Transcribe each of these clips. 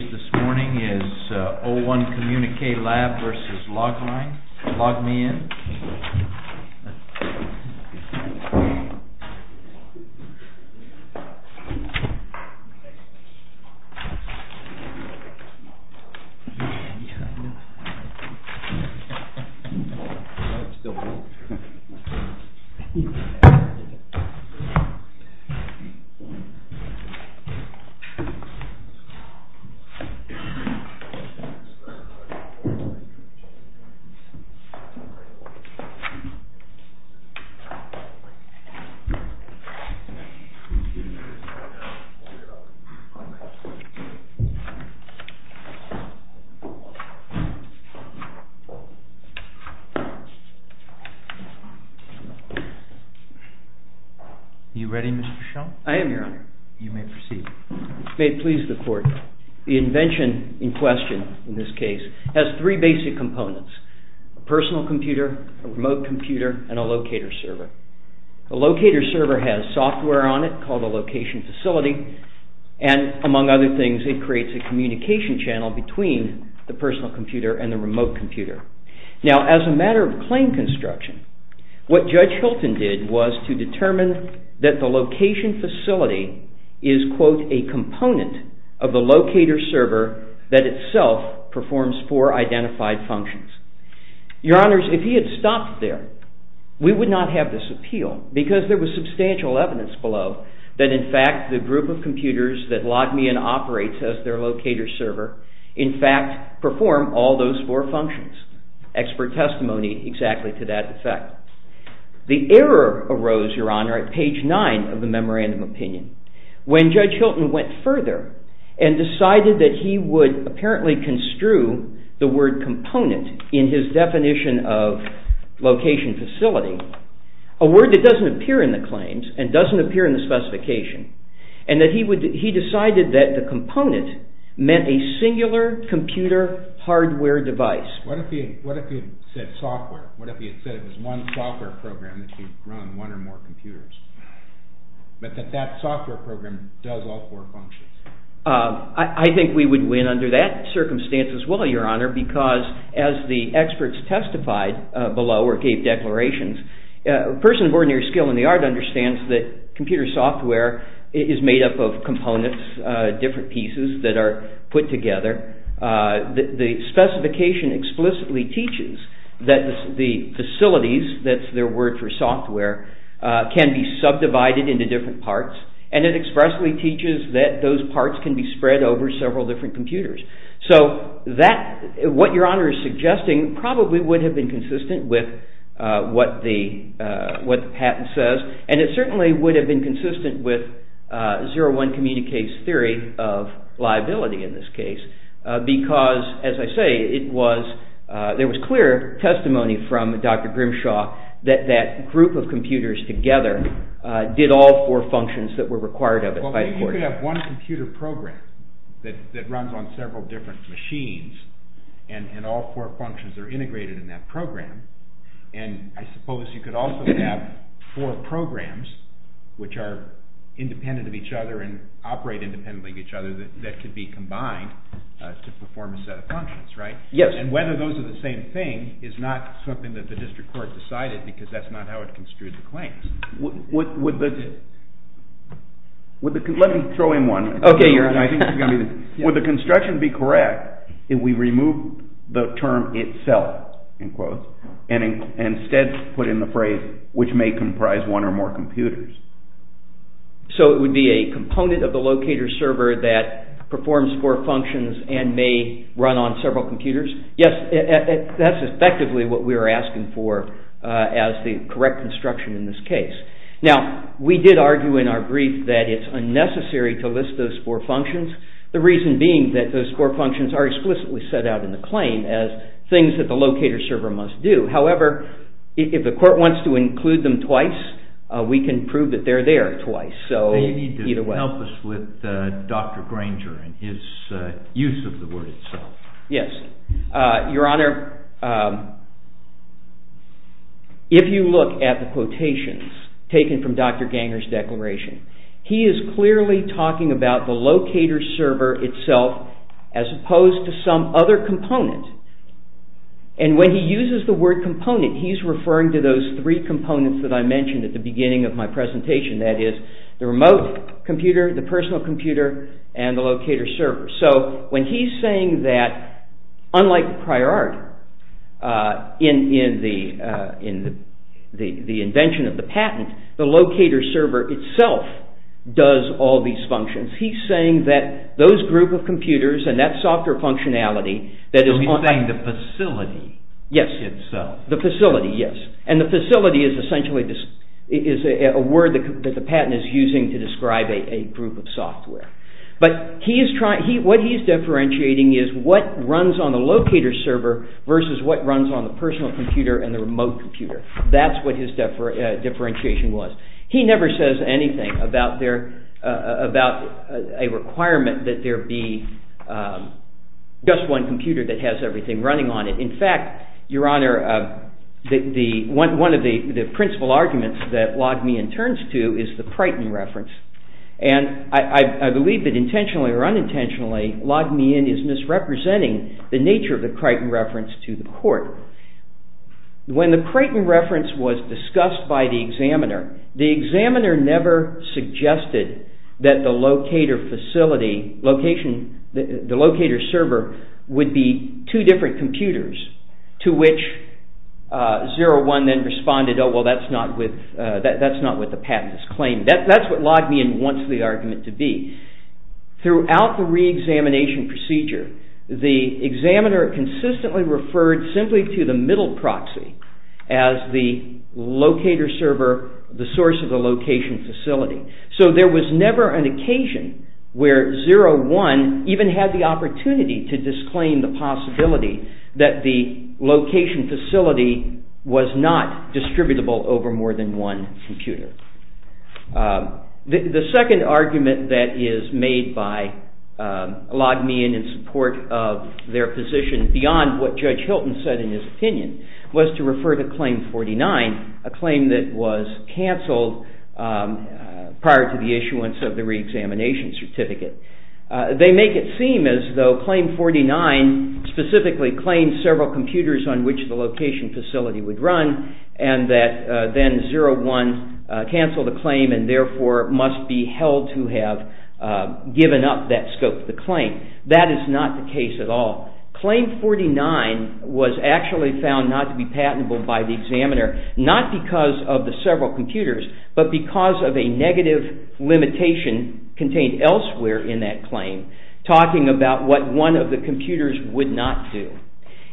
This morning is 01 COMMUNIQUE LAB v. LOGMEIN. Are you ready, Mr. Shum? I am, Your Honor. May it please the Court, the invention in question in this case has three basic components. A personal computer, a remote computer, and a locator server. A locator server has software on it called a location facility, and among other things it creates a communication channel between the personal computer and the remote computer. Now as a matter of claim construction, what Judge Hilton did was to determine that the location facility is, quote, a component of the locator server that itself performs four identified functions. Your Honors, if he had stopped there, we would not have this appeal, because there was substantial evidence below that in fact the group of computers that Logmein operates as their locator server in fact perform all those four functions. Expert testimony exactly to that effect. The error arose, Your Honor, at page nine of the memorandum opinion. When Judge Hilton went further and decided that he would apparently construe the word component in his definition of location facility, a word that doesn't appear in the claims and doesn't appear in the specification, and that he decided that the component meant a singular computer hardware device. What if he had said software? What if he had said it was one software program that could run one or more computers, but that that software program does all four functions? I think we would win under that circumstance as well, Your Honor, because as the experts testified below or gave declarations, a person of ordinary skill in the art understands that computer software is made up of components, different pieces that are put together. The specification explicitly teaches that the facilities, that's their word for software, can be subdivided into different parts, and it expressly teaches that those parts can be spread over several different computers. So what Your Honor is suggesting probably would have been consistent with what the patent says, and it certainly would have been consistent with 0-1 community case theory of liability in this case, because, as I say, there was clear testimony from Dr. Grimshaw that that group of computers together did all four functions that were required of it by the court. Well, maybe you could have one computer program that runs on several different machines, and all four functions are integrated in that program, and I suppose you could also have four programs which are independent of each other and operate independently of each other that could be combined to perform a set of functions, right? Yes. And whether those are the same thing is not something that the district court decided because that's not how it construed the claims. Let me throw in one. Okay, Your Honor. Would the construction be correct if we remove the term itself, and instead put in the phrase, which may comprise one or more computers? So it would be a component of the locator server that performs four functions and may run on several computers? Yes, that's effectively what we were asking for as the correct construction in this case. Now, we did argue in our brief that it's unnecessary to list those four functions, the reason being that those four functions are explicitly set out in the claim as things that the locator server must do. However, if the court wants to include them twice, we can prove that they're there twice. So you need to help us with Dr. Granger and his use of the word itself. Yes. Your Honor, if you look at the quotations taken from Dr. Granger's declaration, he is clearly talking about the locator server itself as opposed to some other component. And when he uses the word component, he's referring to those three components that I mentioned at the beginning of my presentation, that is the remote computer, the personal computer, and the locator server. So when he's saying that, unlike the prior art in the invention of the patent, the locator server itself does all these functions, he's saying that those group of computers and that software functionality that is on... So he's saying the facility itself. Yes, the facility, yes. And the facility is essentially a word that the patent is using to describe a group of software. But what he's differentiating is what runs on the locator server versus what runs on the personal computer and the remote computer. That's what his differentiation was. He never says anything about a requirement that there be just one computer that has everything running on it. In fact, Your Honor, one of the principal arguments that log me in turns to is the Pryton reference. And I believe that intentionally or unintentionally, log me in is misrepresenting the nature of the Pryton reference to the court. When the Pryton reference was discussed by the examiner, the examiner never suggested that the locator facility, the locator server would be two different computers to which Zero One then responded, well, that's not what the patent is claiming. That's what log me in wants the argument to be. Throughout the re-examination procedure, the examiner consistently referred simply to the middle proxy as the locator server, the source of the location facility. So there was never an occasion where Zero One even had the opportunity to disclaim the possibility that the location facility was not distributable over more than one computer. The second argument that is made by log me in in support of their position beyond what Judge Hilton said in his opinion was to refer to Claim 49, a claim that was cancelled prior to the issuance of the re-examination certificate. They make it seem as though Claim 49 specifically claimed several computers on which the location facility would run and that then Zero One cancelled the claim and therefore must be held to have given up that scope of the claim. That is not the case at all. Claim 49 was actually found not to be patentable by the examiner, not because of the several computers, but because of a negative limitation contained elsewhere in that claim talking about what one of the computers would not do.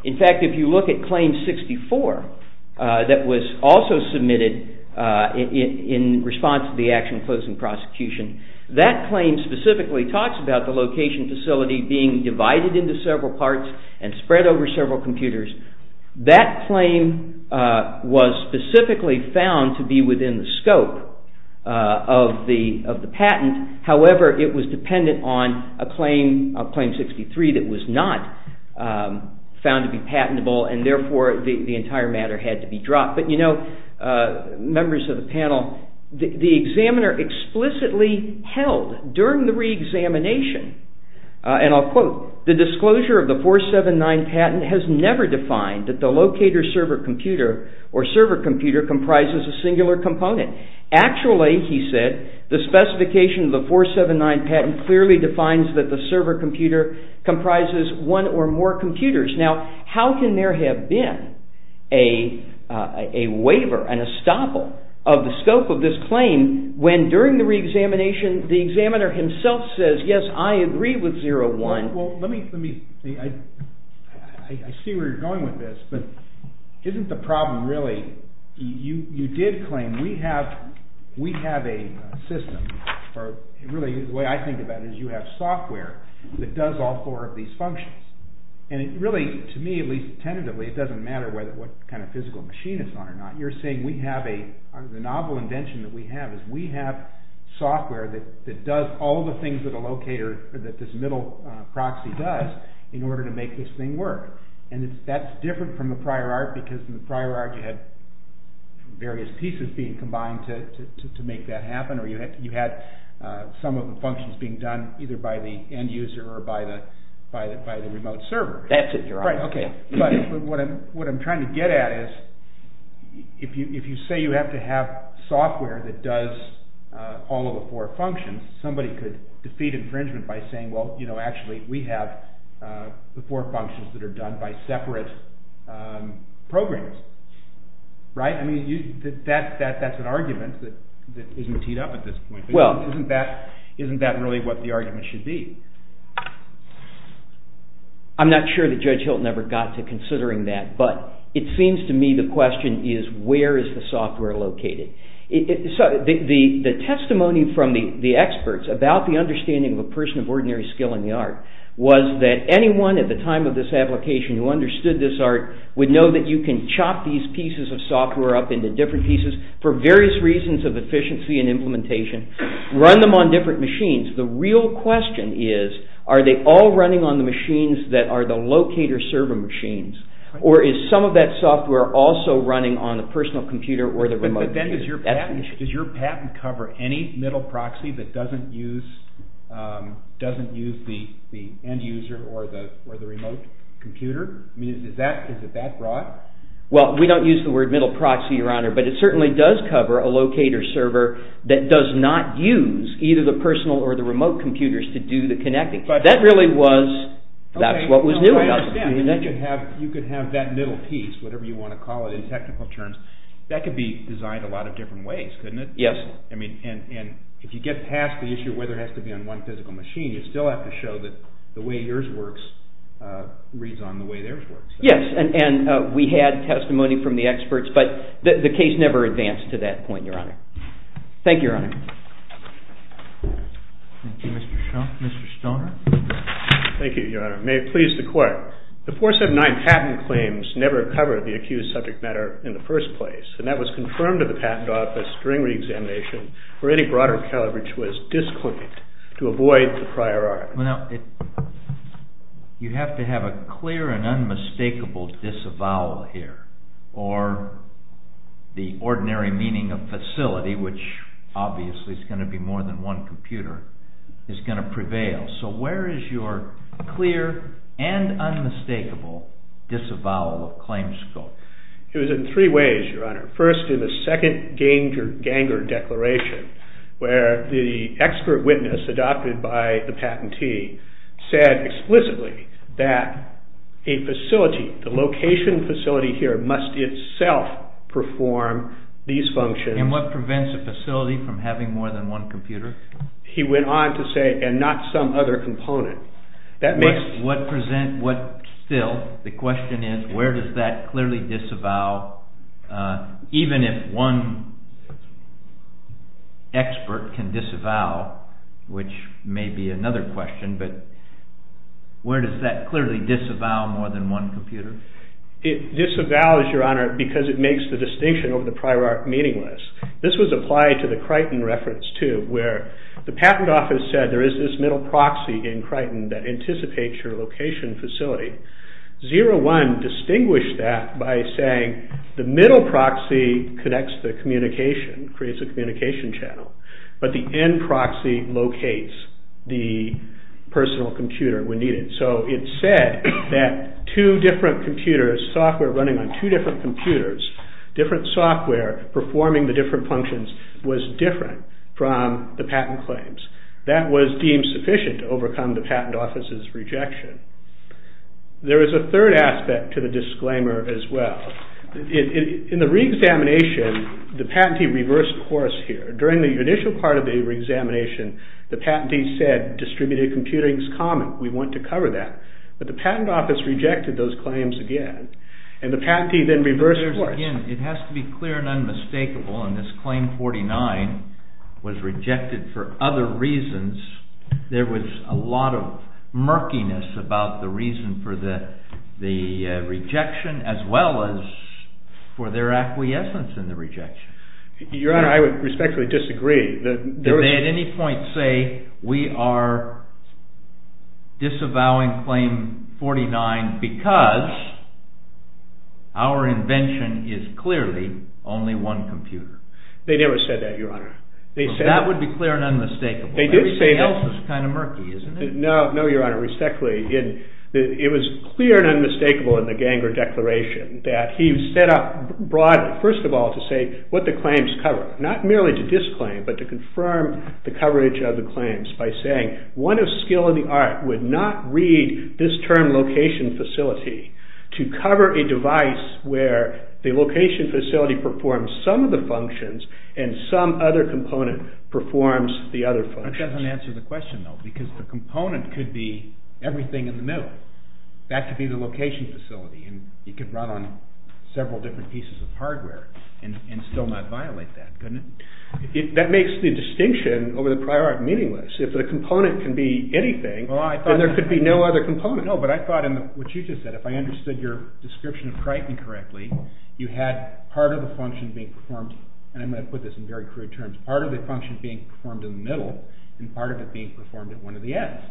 In fact, if you look at Claim 64 that was also submitted in response to the Action Closing Prosecution, that claim specifically talks about the location facility being divided into several parts and spread over several computers. That claim was specifically found to be within the scope of the patent. However, it was dependent on a Claim 63 that was not found to be patentable and therefore the entire matter had to be dropped. Members of the panel, the examiner explicitly held during the re-examination, and I'll quote, the disclosure of the 479 patent has never defined that the locator server computer or server computer comprises a singular component. Actually, he said, the specification of the 479 patent clearly defines that the server computer comprises one or more computers. Now, how can there have been a waiver, an estoppel of the scope of this claim when during the re-examination the examiner himself says, yes, I agree with 01. Well, let me, I see where you're going with this, but isn't the problem really, you did claim, we have a system, or really the way I think about it is you have software that does all four of these functions. And it really, to me, at least tentatively, it doesn't matter what kind of physical machine it's on or not, you're saying we have a, the novel invention that we have is we have software that does all the things that a locator, that this middle proxy does in order to make this thing work. And that's different from the prior art because in the prior art you had various pieces being combined to make that happen, or you had some of the functions being done either by the end user or by the remote server. That's it, you're on. Right, okay, but what I'm trying to get at is if you say you have to have software that does all of the four functions, somebody could defeat infringement by saying, well, you know, actually we have the four functions that are done by separate programs. Right, I mean, that's an argument that isn't teed up at this point. Isn't that really what the argument should be? I'm not sure that Judge Hilton ever got to considering that, but it seems to me the question is where is the software located? So the testimony from the experts about the understanding of a person of ordinary skill in the art was that anyone at the time of this application who understood this art would know that you can chop these pieces of software up into different pieces for various reasons of efficiency and implementation, run them on different machines. The real question is are they all running on the machines that are the locator server machines or is some of that software also running on a personal computer or the remote computer? But then does your patent cover any middle proxy that doesn't use the end user or the remote computer? I mean, is it that broad? Well, we don't use the word middle proxy, Your Honor, but it certainly does cover a locator server that does not use either the personal or the remote computers to do the connecting. That really was, that's what was new about the connection. You could have that middle piece, whatever you want to call it in technical terms, that could be designed a lot of different ways, couldn't it? Yes. And if you get past the issue of whether it has to be on one physical machine, you still have to show that the way yours works reads on the way theirs works. Yes, and we had testimony from the experts, but the case never advanced to that point, Your Honor. Thank you, Your Honor. Thank you, Mr. Shaw. Mr. Stoner? Thank you, Your Honor. May it please the Court. The 479 patent claims never covered the accused subject matter in the first place, and that was confirmed to the patent office during reexamination where any broader coverage was disclaimed to avoid the prior art. Well, now, you have to have a clear and unmistakable disavowal here, or the ordinary meaning of facility, which obviously is going to be more than one computer, is going to prevail. So where is your clear and unmistakable disavowal of claim scope? It was in three ways, Your Honor. First, in the second Ganger Declaration, where the expert witness adopted by the patentee said explicitly that a facility, the location facility here, must itself perform these functions. And what prevents a facility from having more than one computer? He went on to say, and not some other component. Still, the question is, where does that clearly disavow, even if one expert can disavow, which may be another question, but where does that clearly disavow more than one computer? It disavows, Your Honor, because it makes the distinction over the prior art meaningless. This was applied to the Crichton reference, too, where the patent office said there is this middle proxy in Crichton that anticipates your location facility. Zero One distinguished that by saying the middle proxy connects the communication, creates a communication channel, but the end proxy locates the personal computer when needed. So it said that two different computers, software running on two different computers, different software performing the different functions was different from the patent claims. That was deemed sufficient to overcome the patent office's rejection. There is a third aspect to the disclaimer as well. In the re-examination, the patentee reversed course here. During the initial part of the re-examination, the patentee said distributed computing is common, we want to cover that. But the patent office rejected those claims again, and the patentee then reversed course. It has to be clear and unmistakable and this Claim 49 was rejected for other reasons. There was a lot of murkiness about the reason for the rejection as well as for their acquiescence in the rejection. Your Honor, I would respectfully disagree. Did they at any point say we are disavowing Claim 49 because our invention is clearly only one computer? They never said that, Your Honor. That would be clear and unmistakable. Everything else is kind of murky, isn't it? No, Your Honor, respectfully. It was clear and unmistakable in the Ganger Declaration that he set up, first of all, to say what the claims cover. Not merely to disclaim, but to confirm the coverage of the claims by saying one of skill in the art would not read this term location facility to cover a device where the location facility performs some of the functions and some other component performs the other functions. That doesn't answer the question, though, because the component could be everything in the middle. That could be the location facility and it could run on several different pieces of hardware and still not violate that, couldn't it? That makes the distinction over the prior art meaningless. If the component can be anything, then there could be no other component. No, but I thought in what you just said, if I understood your description correctly, you had part of the function being performed, and I'm going to put this in very crude terms, part of the function being performed in the middle and part of it being performed at one of the ends.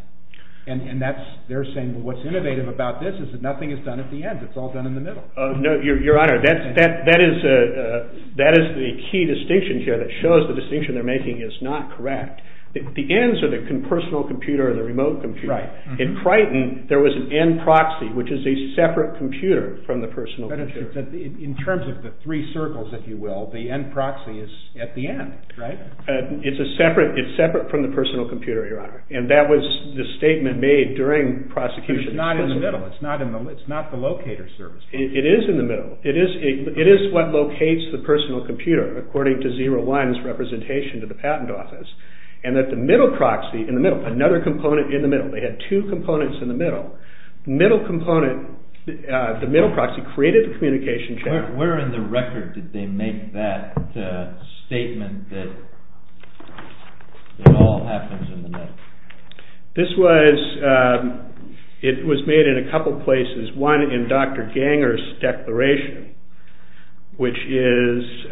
And they're saying what's innovative about this is that nothing is done at the end. It's all done in the middle. No, Your Honor, that is the key distinction here that shows the distinction they're making is not correct. The ends are the personal computer and the remote computer. In Crichton, there was an end proxy, which is a separate computer from the personal computer. But in terms of the three circles, if you will, the end proxy is at the end, right? It's separate from the personal computer, Your Honor, and that was the statement made during prosecution. But it's not in the middle. It's not the locator service. It is in the middle. It is what locates the personal computer, according to 0-1's representation to the patent office, and that the middle proxy, in the middle, another component in the middle. They had two components in the middle. The middle component, the middle proxy, created the communication channel. Where in the record did they make that statement that it all happens in the middle? This was made in a couple places. One, in Dr. Ganger's declaration, which is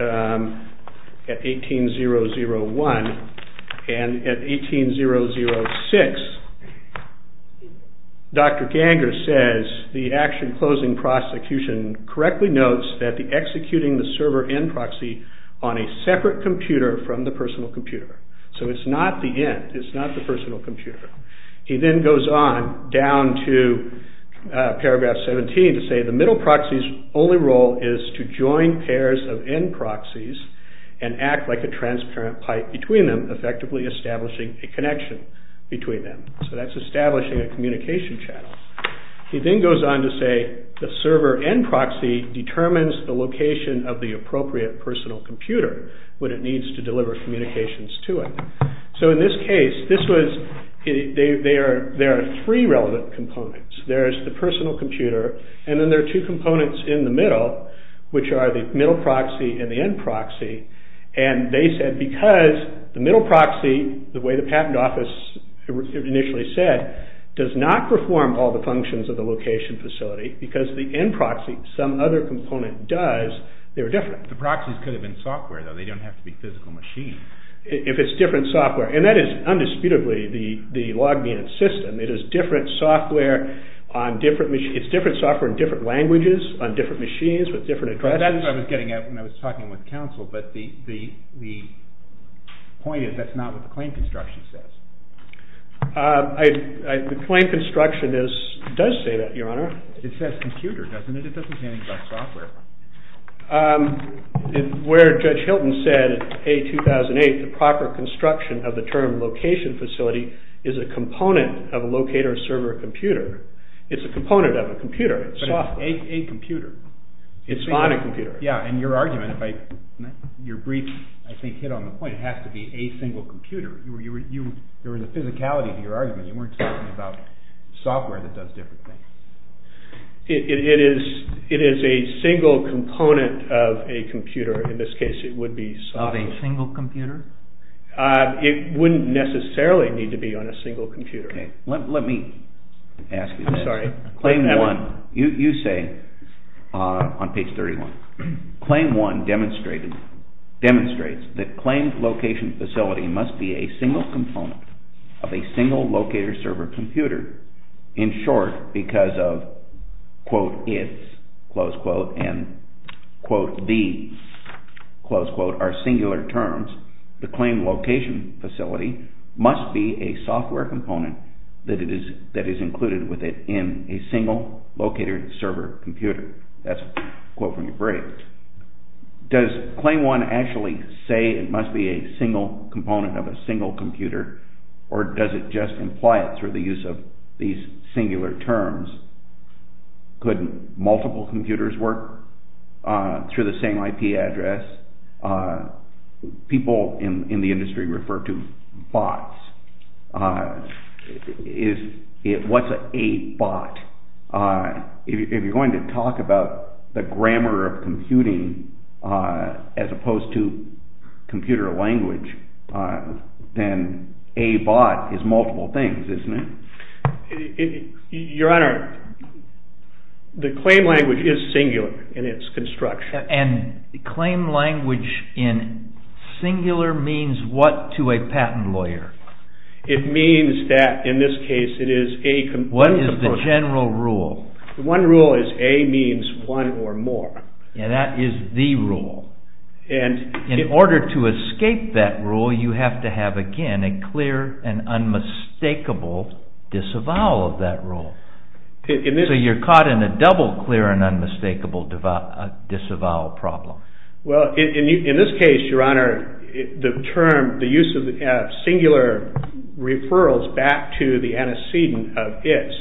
at 18-001, and at 18-006, Dr. Ganger says, the action closing prosecution correctly notes that the executing the server end proxy on a separate computer from the personal computer. So it's not the end. It's not the personal computer. He then goes on down to paragraph 17 to say the middle proxy's only role is to join pairs of end proxies and act like a transparent pipe between them, effectively establishing a connection between them. So that's establishing a communication channel. He then goes on to say the server end proxy determines the location of the appropriate personal computer when it needs to deliver communications to it. So in this case, there are three relevant components. There's the personal computer, and then there are two components in the middle, which are the middle proxy and the end proxy. And they said because the middle proxy, the way the patent office initially said, does not perform all the functions of the location facility, because the end proxy, some other component does, they were different. The proxies could have been software, though. They don't have to be physical machines. If it's different software. And that is undisputably the log-mean system. It is different software on different machines. It's different software in different languages, on different machines, with different addresses. That's what I was getting at when I was talking with counsel, but the point is that's not what the claim construction says. The claim construction does say that, Your Honor. It says computer, doesn't it? It doesn't say anything about software. Where Judge Hilton said, A2008, the proper construction of the term location facility is a component of a locator-server computer. It's a component of a computer. It's software. But it's a computer. It's not a computer. Yeah, and your argument, your brief, I think, hit on the point, it has to be a single computer. There was a physicality to your argument. You weren't talking about software that does different things. It is a single component of a computer. In this case, it would be software. Of a single computer? It wouldn't necessarily need to be on a single computer. Okay, let me ask you this. I'm sorry. Claim 1, you say on page 31, Claim 1 demonstrates that claimed location facility must be a single component of a single locator-server computer, in short, because of, quote, its, close quote, and, quote, the, close quote, are singular terms, the claimed location facility must be a software component that is included with it in a single locator-server computer. That's a quote from your brief. Does Claim 1 actually say it must be a single component of a single computer, or does it just imply it through the use of these singular terms? Could multiple computers work through the same IP address? People in the industry refer to bots. What's a bot? If you're going to talk about the grammar of computing as opposed to computer language, then a bot is multiple things, isn't it? Your Honor, the claim language is singular in its construction. And claim language in singular means what to a patent lawyer? It means that, in this case, it is a component of... What is the general rule? One rule is A means one or more. Yeah, that is the rule. So you're caught in a clear and unmistakable disavowal of that rule. So you're caught in a double clear and unmistakable disavowal problem. Well, in this case, Your Honor, the term, the use of singular referrals back to the antecedent of its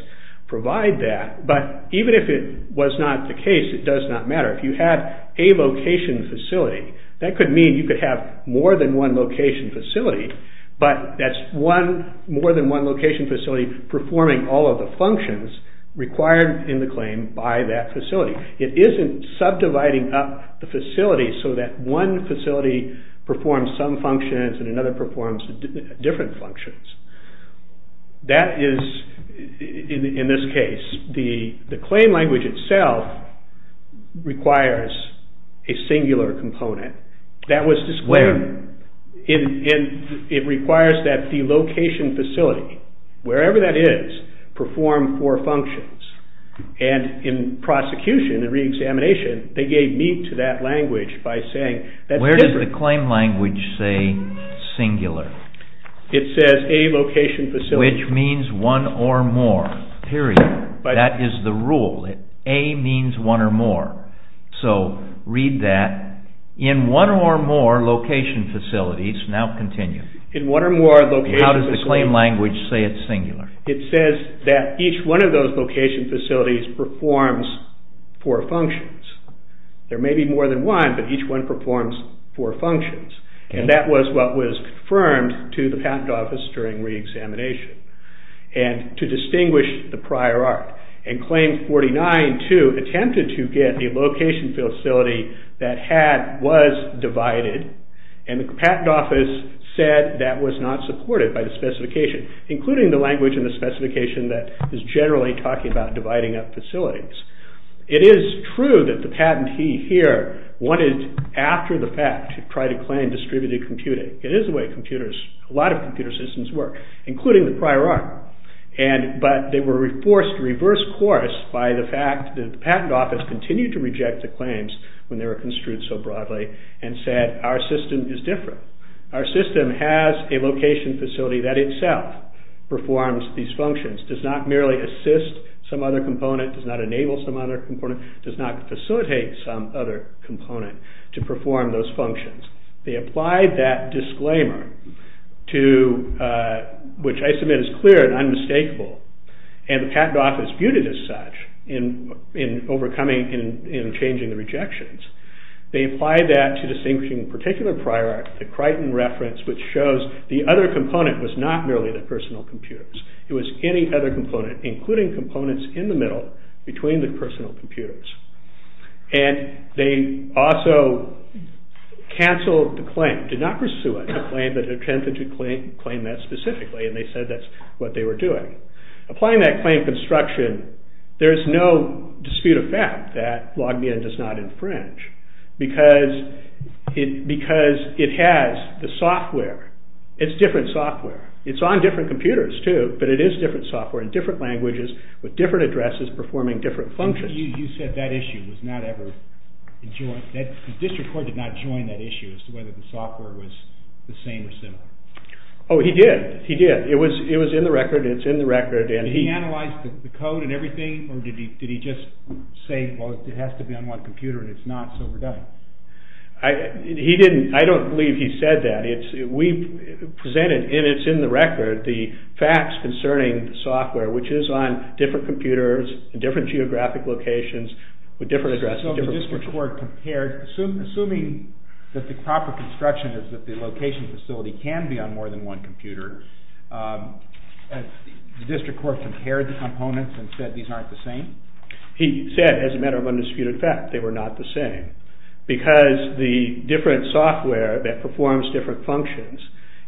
provide that. But even if it was not the case, it does not matter. If you had a location facility, that could mean you could have more than one location facility, but that's one... More than one location facility performing all of the functions required in the claim by that facility. It isn't subdividing up the facility so that one facility performs some functions and another performs different functions. That is, in this case, the claim language itself requires a singular component. That was disclaimed. It requires that the location facility, wherever that is, perform four functions. And in prosecution and reexamination, they gave meat to that language by saying... Where does the claim language say singular? It says a location facility... Which means one or more, period. That is the rule. A means one or more. So read that. In one or more location facilities... Now continue. In one or more location facilities... How does the claim language say it's singular? It says that each one of those location facilities performs four functions. There may be more than one, but each one performs four functions. And that was what was confirmed to the patent office during reexamination. And to distinguish the prior art. And Claim 49, too, attempted to get a location facility that was divided, and the patent office said that was not supported by the specification, including the language and the specification that is generally talking about dividing up facilities. It is true that the patentee here wanted, after the fact, to try to claim distributed computing. It is the way computers, a lot of computer systems work, including the prior art. But they were forced to reverse course by the fact that the patent office continued to reject the claims when they were construed so broadly, and said our system is different. Our system has a location facility that itself performs these functions, does not merely assist some other component, does not enable some other component, does not facilitate some other component to perform those functions. They applied that disclaimer to, which I submit is clear and unmistakable, and the patent office viewed it as such in overcoming and changing the rejections. They applied that to distinguishing the particular prior art, the Crichton reference, which shows the other component was not merely the personal computers. It was any other component, including components in the middle between the personal computers. And they also cancelled the claim, did not pursue a claim, but attempted to claim that specifically, and they said that's what they were doing. Applying that claim construction, there is no dispute of fact that LogMeIn does not infringe, because it has the software. It's different software. It's on different computers too, but it is different software in different languages with different addresses performing different functions. You said that issue was not ever joined. The district court did not join that issue as to whether the software was the same or similar. Oh, he did. He did. It was in the record. It's in the record. Did he analyze the code and everything, or did he just say, well, it has to be on one computer, and it's not, so we're done? I don't believe he said that. We presented, and it's in the record, the facts concerning the software, which is on different computers in different geographic locations with different addresses... So the district court compared... Assuming that the proper construction is that the location facility can be on more than one computer, the district court compared the components and said these aren't the same? He said, as a matter of undisputed fact, they were not the same, because the different software that performs different functions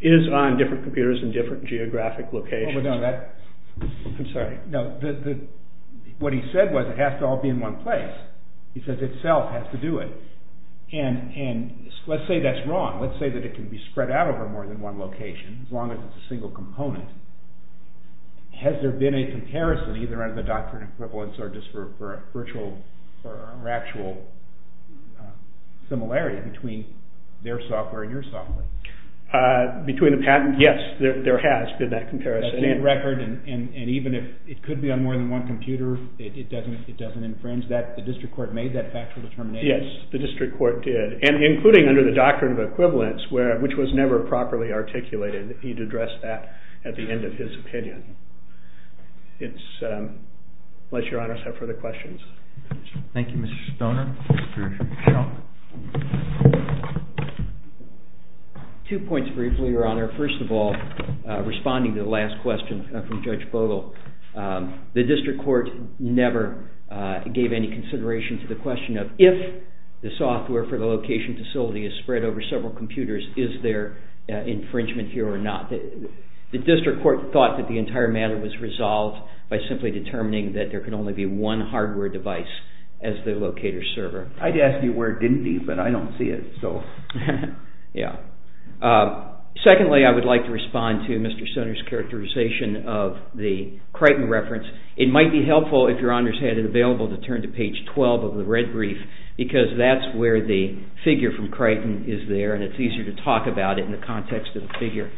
is on different computers in different geographic locations. I'm sorry. What he said was it has to all be in one place. He says itself has to do it. And let's say that's wrong. Let's say that it can be spread out over more than one location, as long as it's a single component. Has there been a comparison, either under the doctrine of equivalence or just for a virtual or actual similarity between their software and your software? Between the patent? Yes, there has been that comparison. And even if it could be on more than one computer, it doesn't infringe that? The district court made that factual determination? Yes, the district court did. And including under the doctrine of equivalence, which was never properly articulated, he'd address that at the end of his opinion. Unless your honors have further questions. Thank you, Mr. Stoner. Two points briefly, Your Honor. First of all, responding to the last question from Judge Bogle. The district court never gave any consideration to the question of if the software for the location facility is spread over several computers, is there infringement here or not? The district court thought that the entire matter was resolved by simply determining that there can only be one hardware device as the locator serves. I'd ask you where it didn't be, but I don't see it. Secondly, I would like to respond to Mr. Stoner's characterization of the Crichton reference. It might be helpful if your honors had it available to turn to page 12 of the red brief, because that's where the figure from Crichton is there, and it's easier to talk about it in the context of the figure.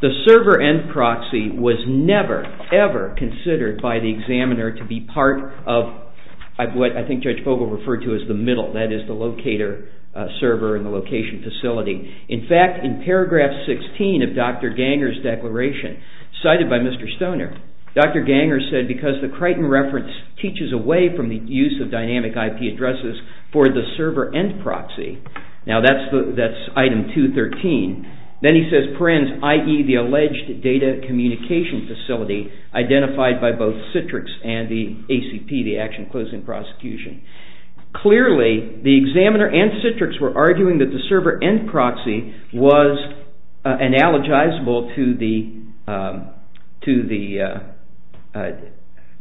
The server end proxy was never, ever considered by the examiner to be part of what I think Judge Bogle referred to as the middle, that is the locator server in the location facility. In fact, in paragraph 16 of Dr. Ganger's declaration, cited by Mr. Stoner, Dr. Ganger said because the Crichton reference teaches away from the use of dynamic IP addresses for the server end proxy, now that's item 213, then he says perens, i.e. the alleged data communication facility identified by both Citrix and the ACP, the Action Closing Prosecution. Clearly, the examiner and Citrix were arguing that the server end proxy was analogizable to the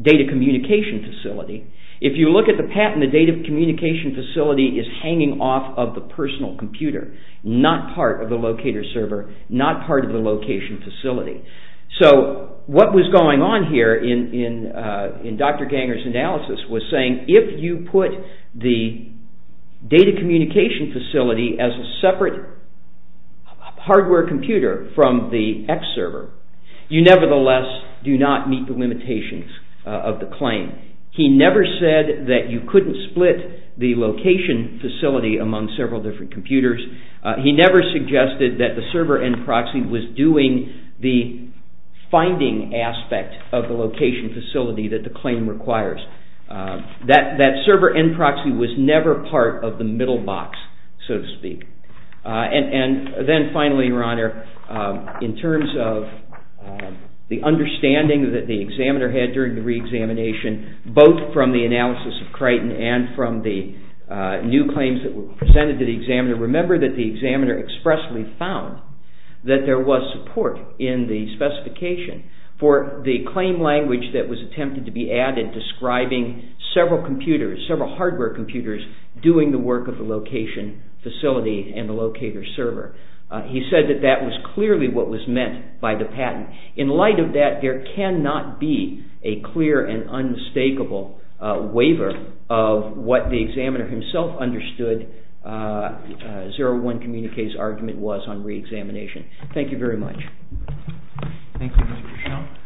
data communication facility. If you look at the patent, the data communication facility is hanging off of the personal computer, not part of the locator server, not part of the location facility. What was going on here in Dr. Ganger's analysis was saying if you put the data communication facility as a separate hardware computer from the X server, you nevertheless do not meet the limitations of the claim. He never said that you couldn't split the location facility among several different computers. He never suggested that the server end proxy was doing the finding aspect of the location facility that the claim requires. That server end proxy was never part of the middle box, so to speak. And then finally, Your Honor, in terms of the understanding that the examiner had during the re-examination, both from the analysis of Crichton and from the new claims that were presented to the examiner, remember that the examiner expressly found that there was support in the specification for the claim language that was attempted to be added describing several computers, several hardware computers, doing the work of the location facility and the locator server. He said that that was clearly what was meant by the patent. In light of that, there cannot be a clear and unmistakable waiver of what the examiner himself understood that 01 Communiqué's argument was on re-examination. Thank you very much. Thank you, Mr. Cruchot.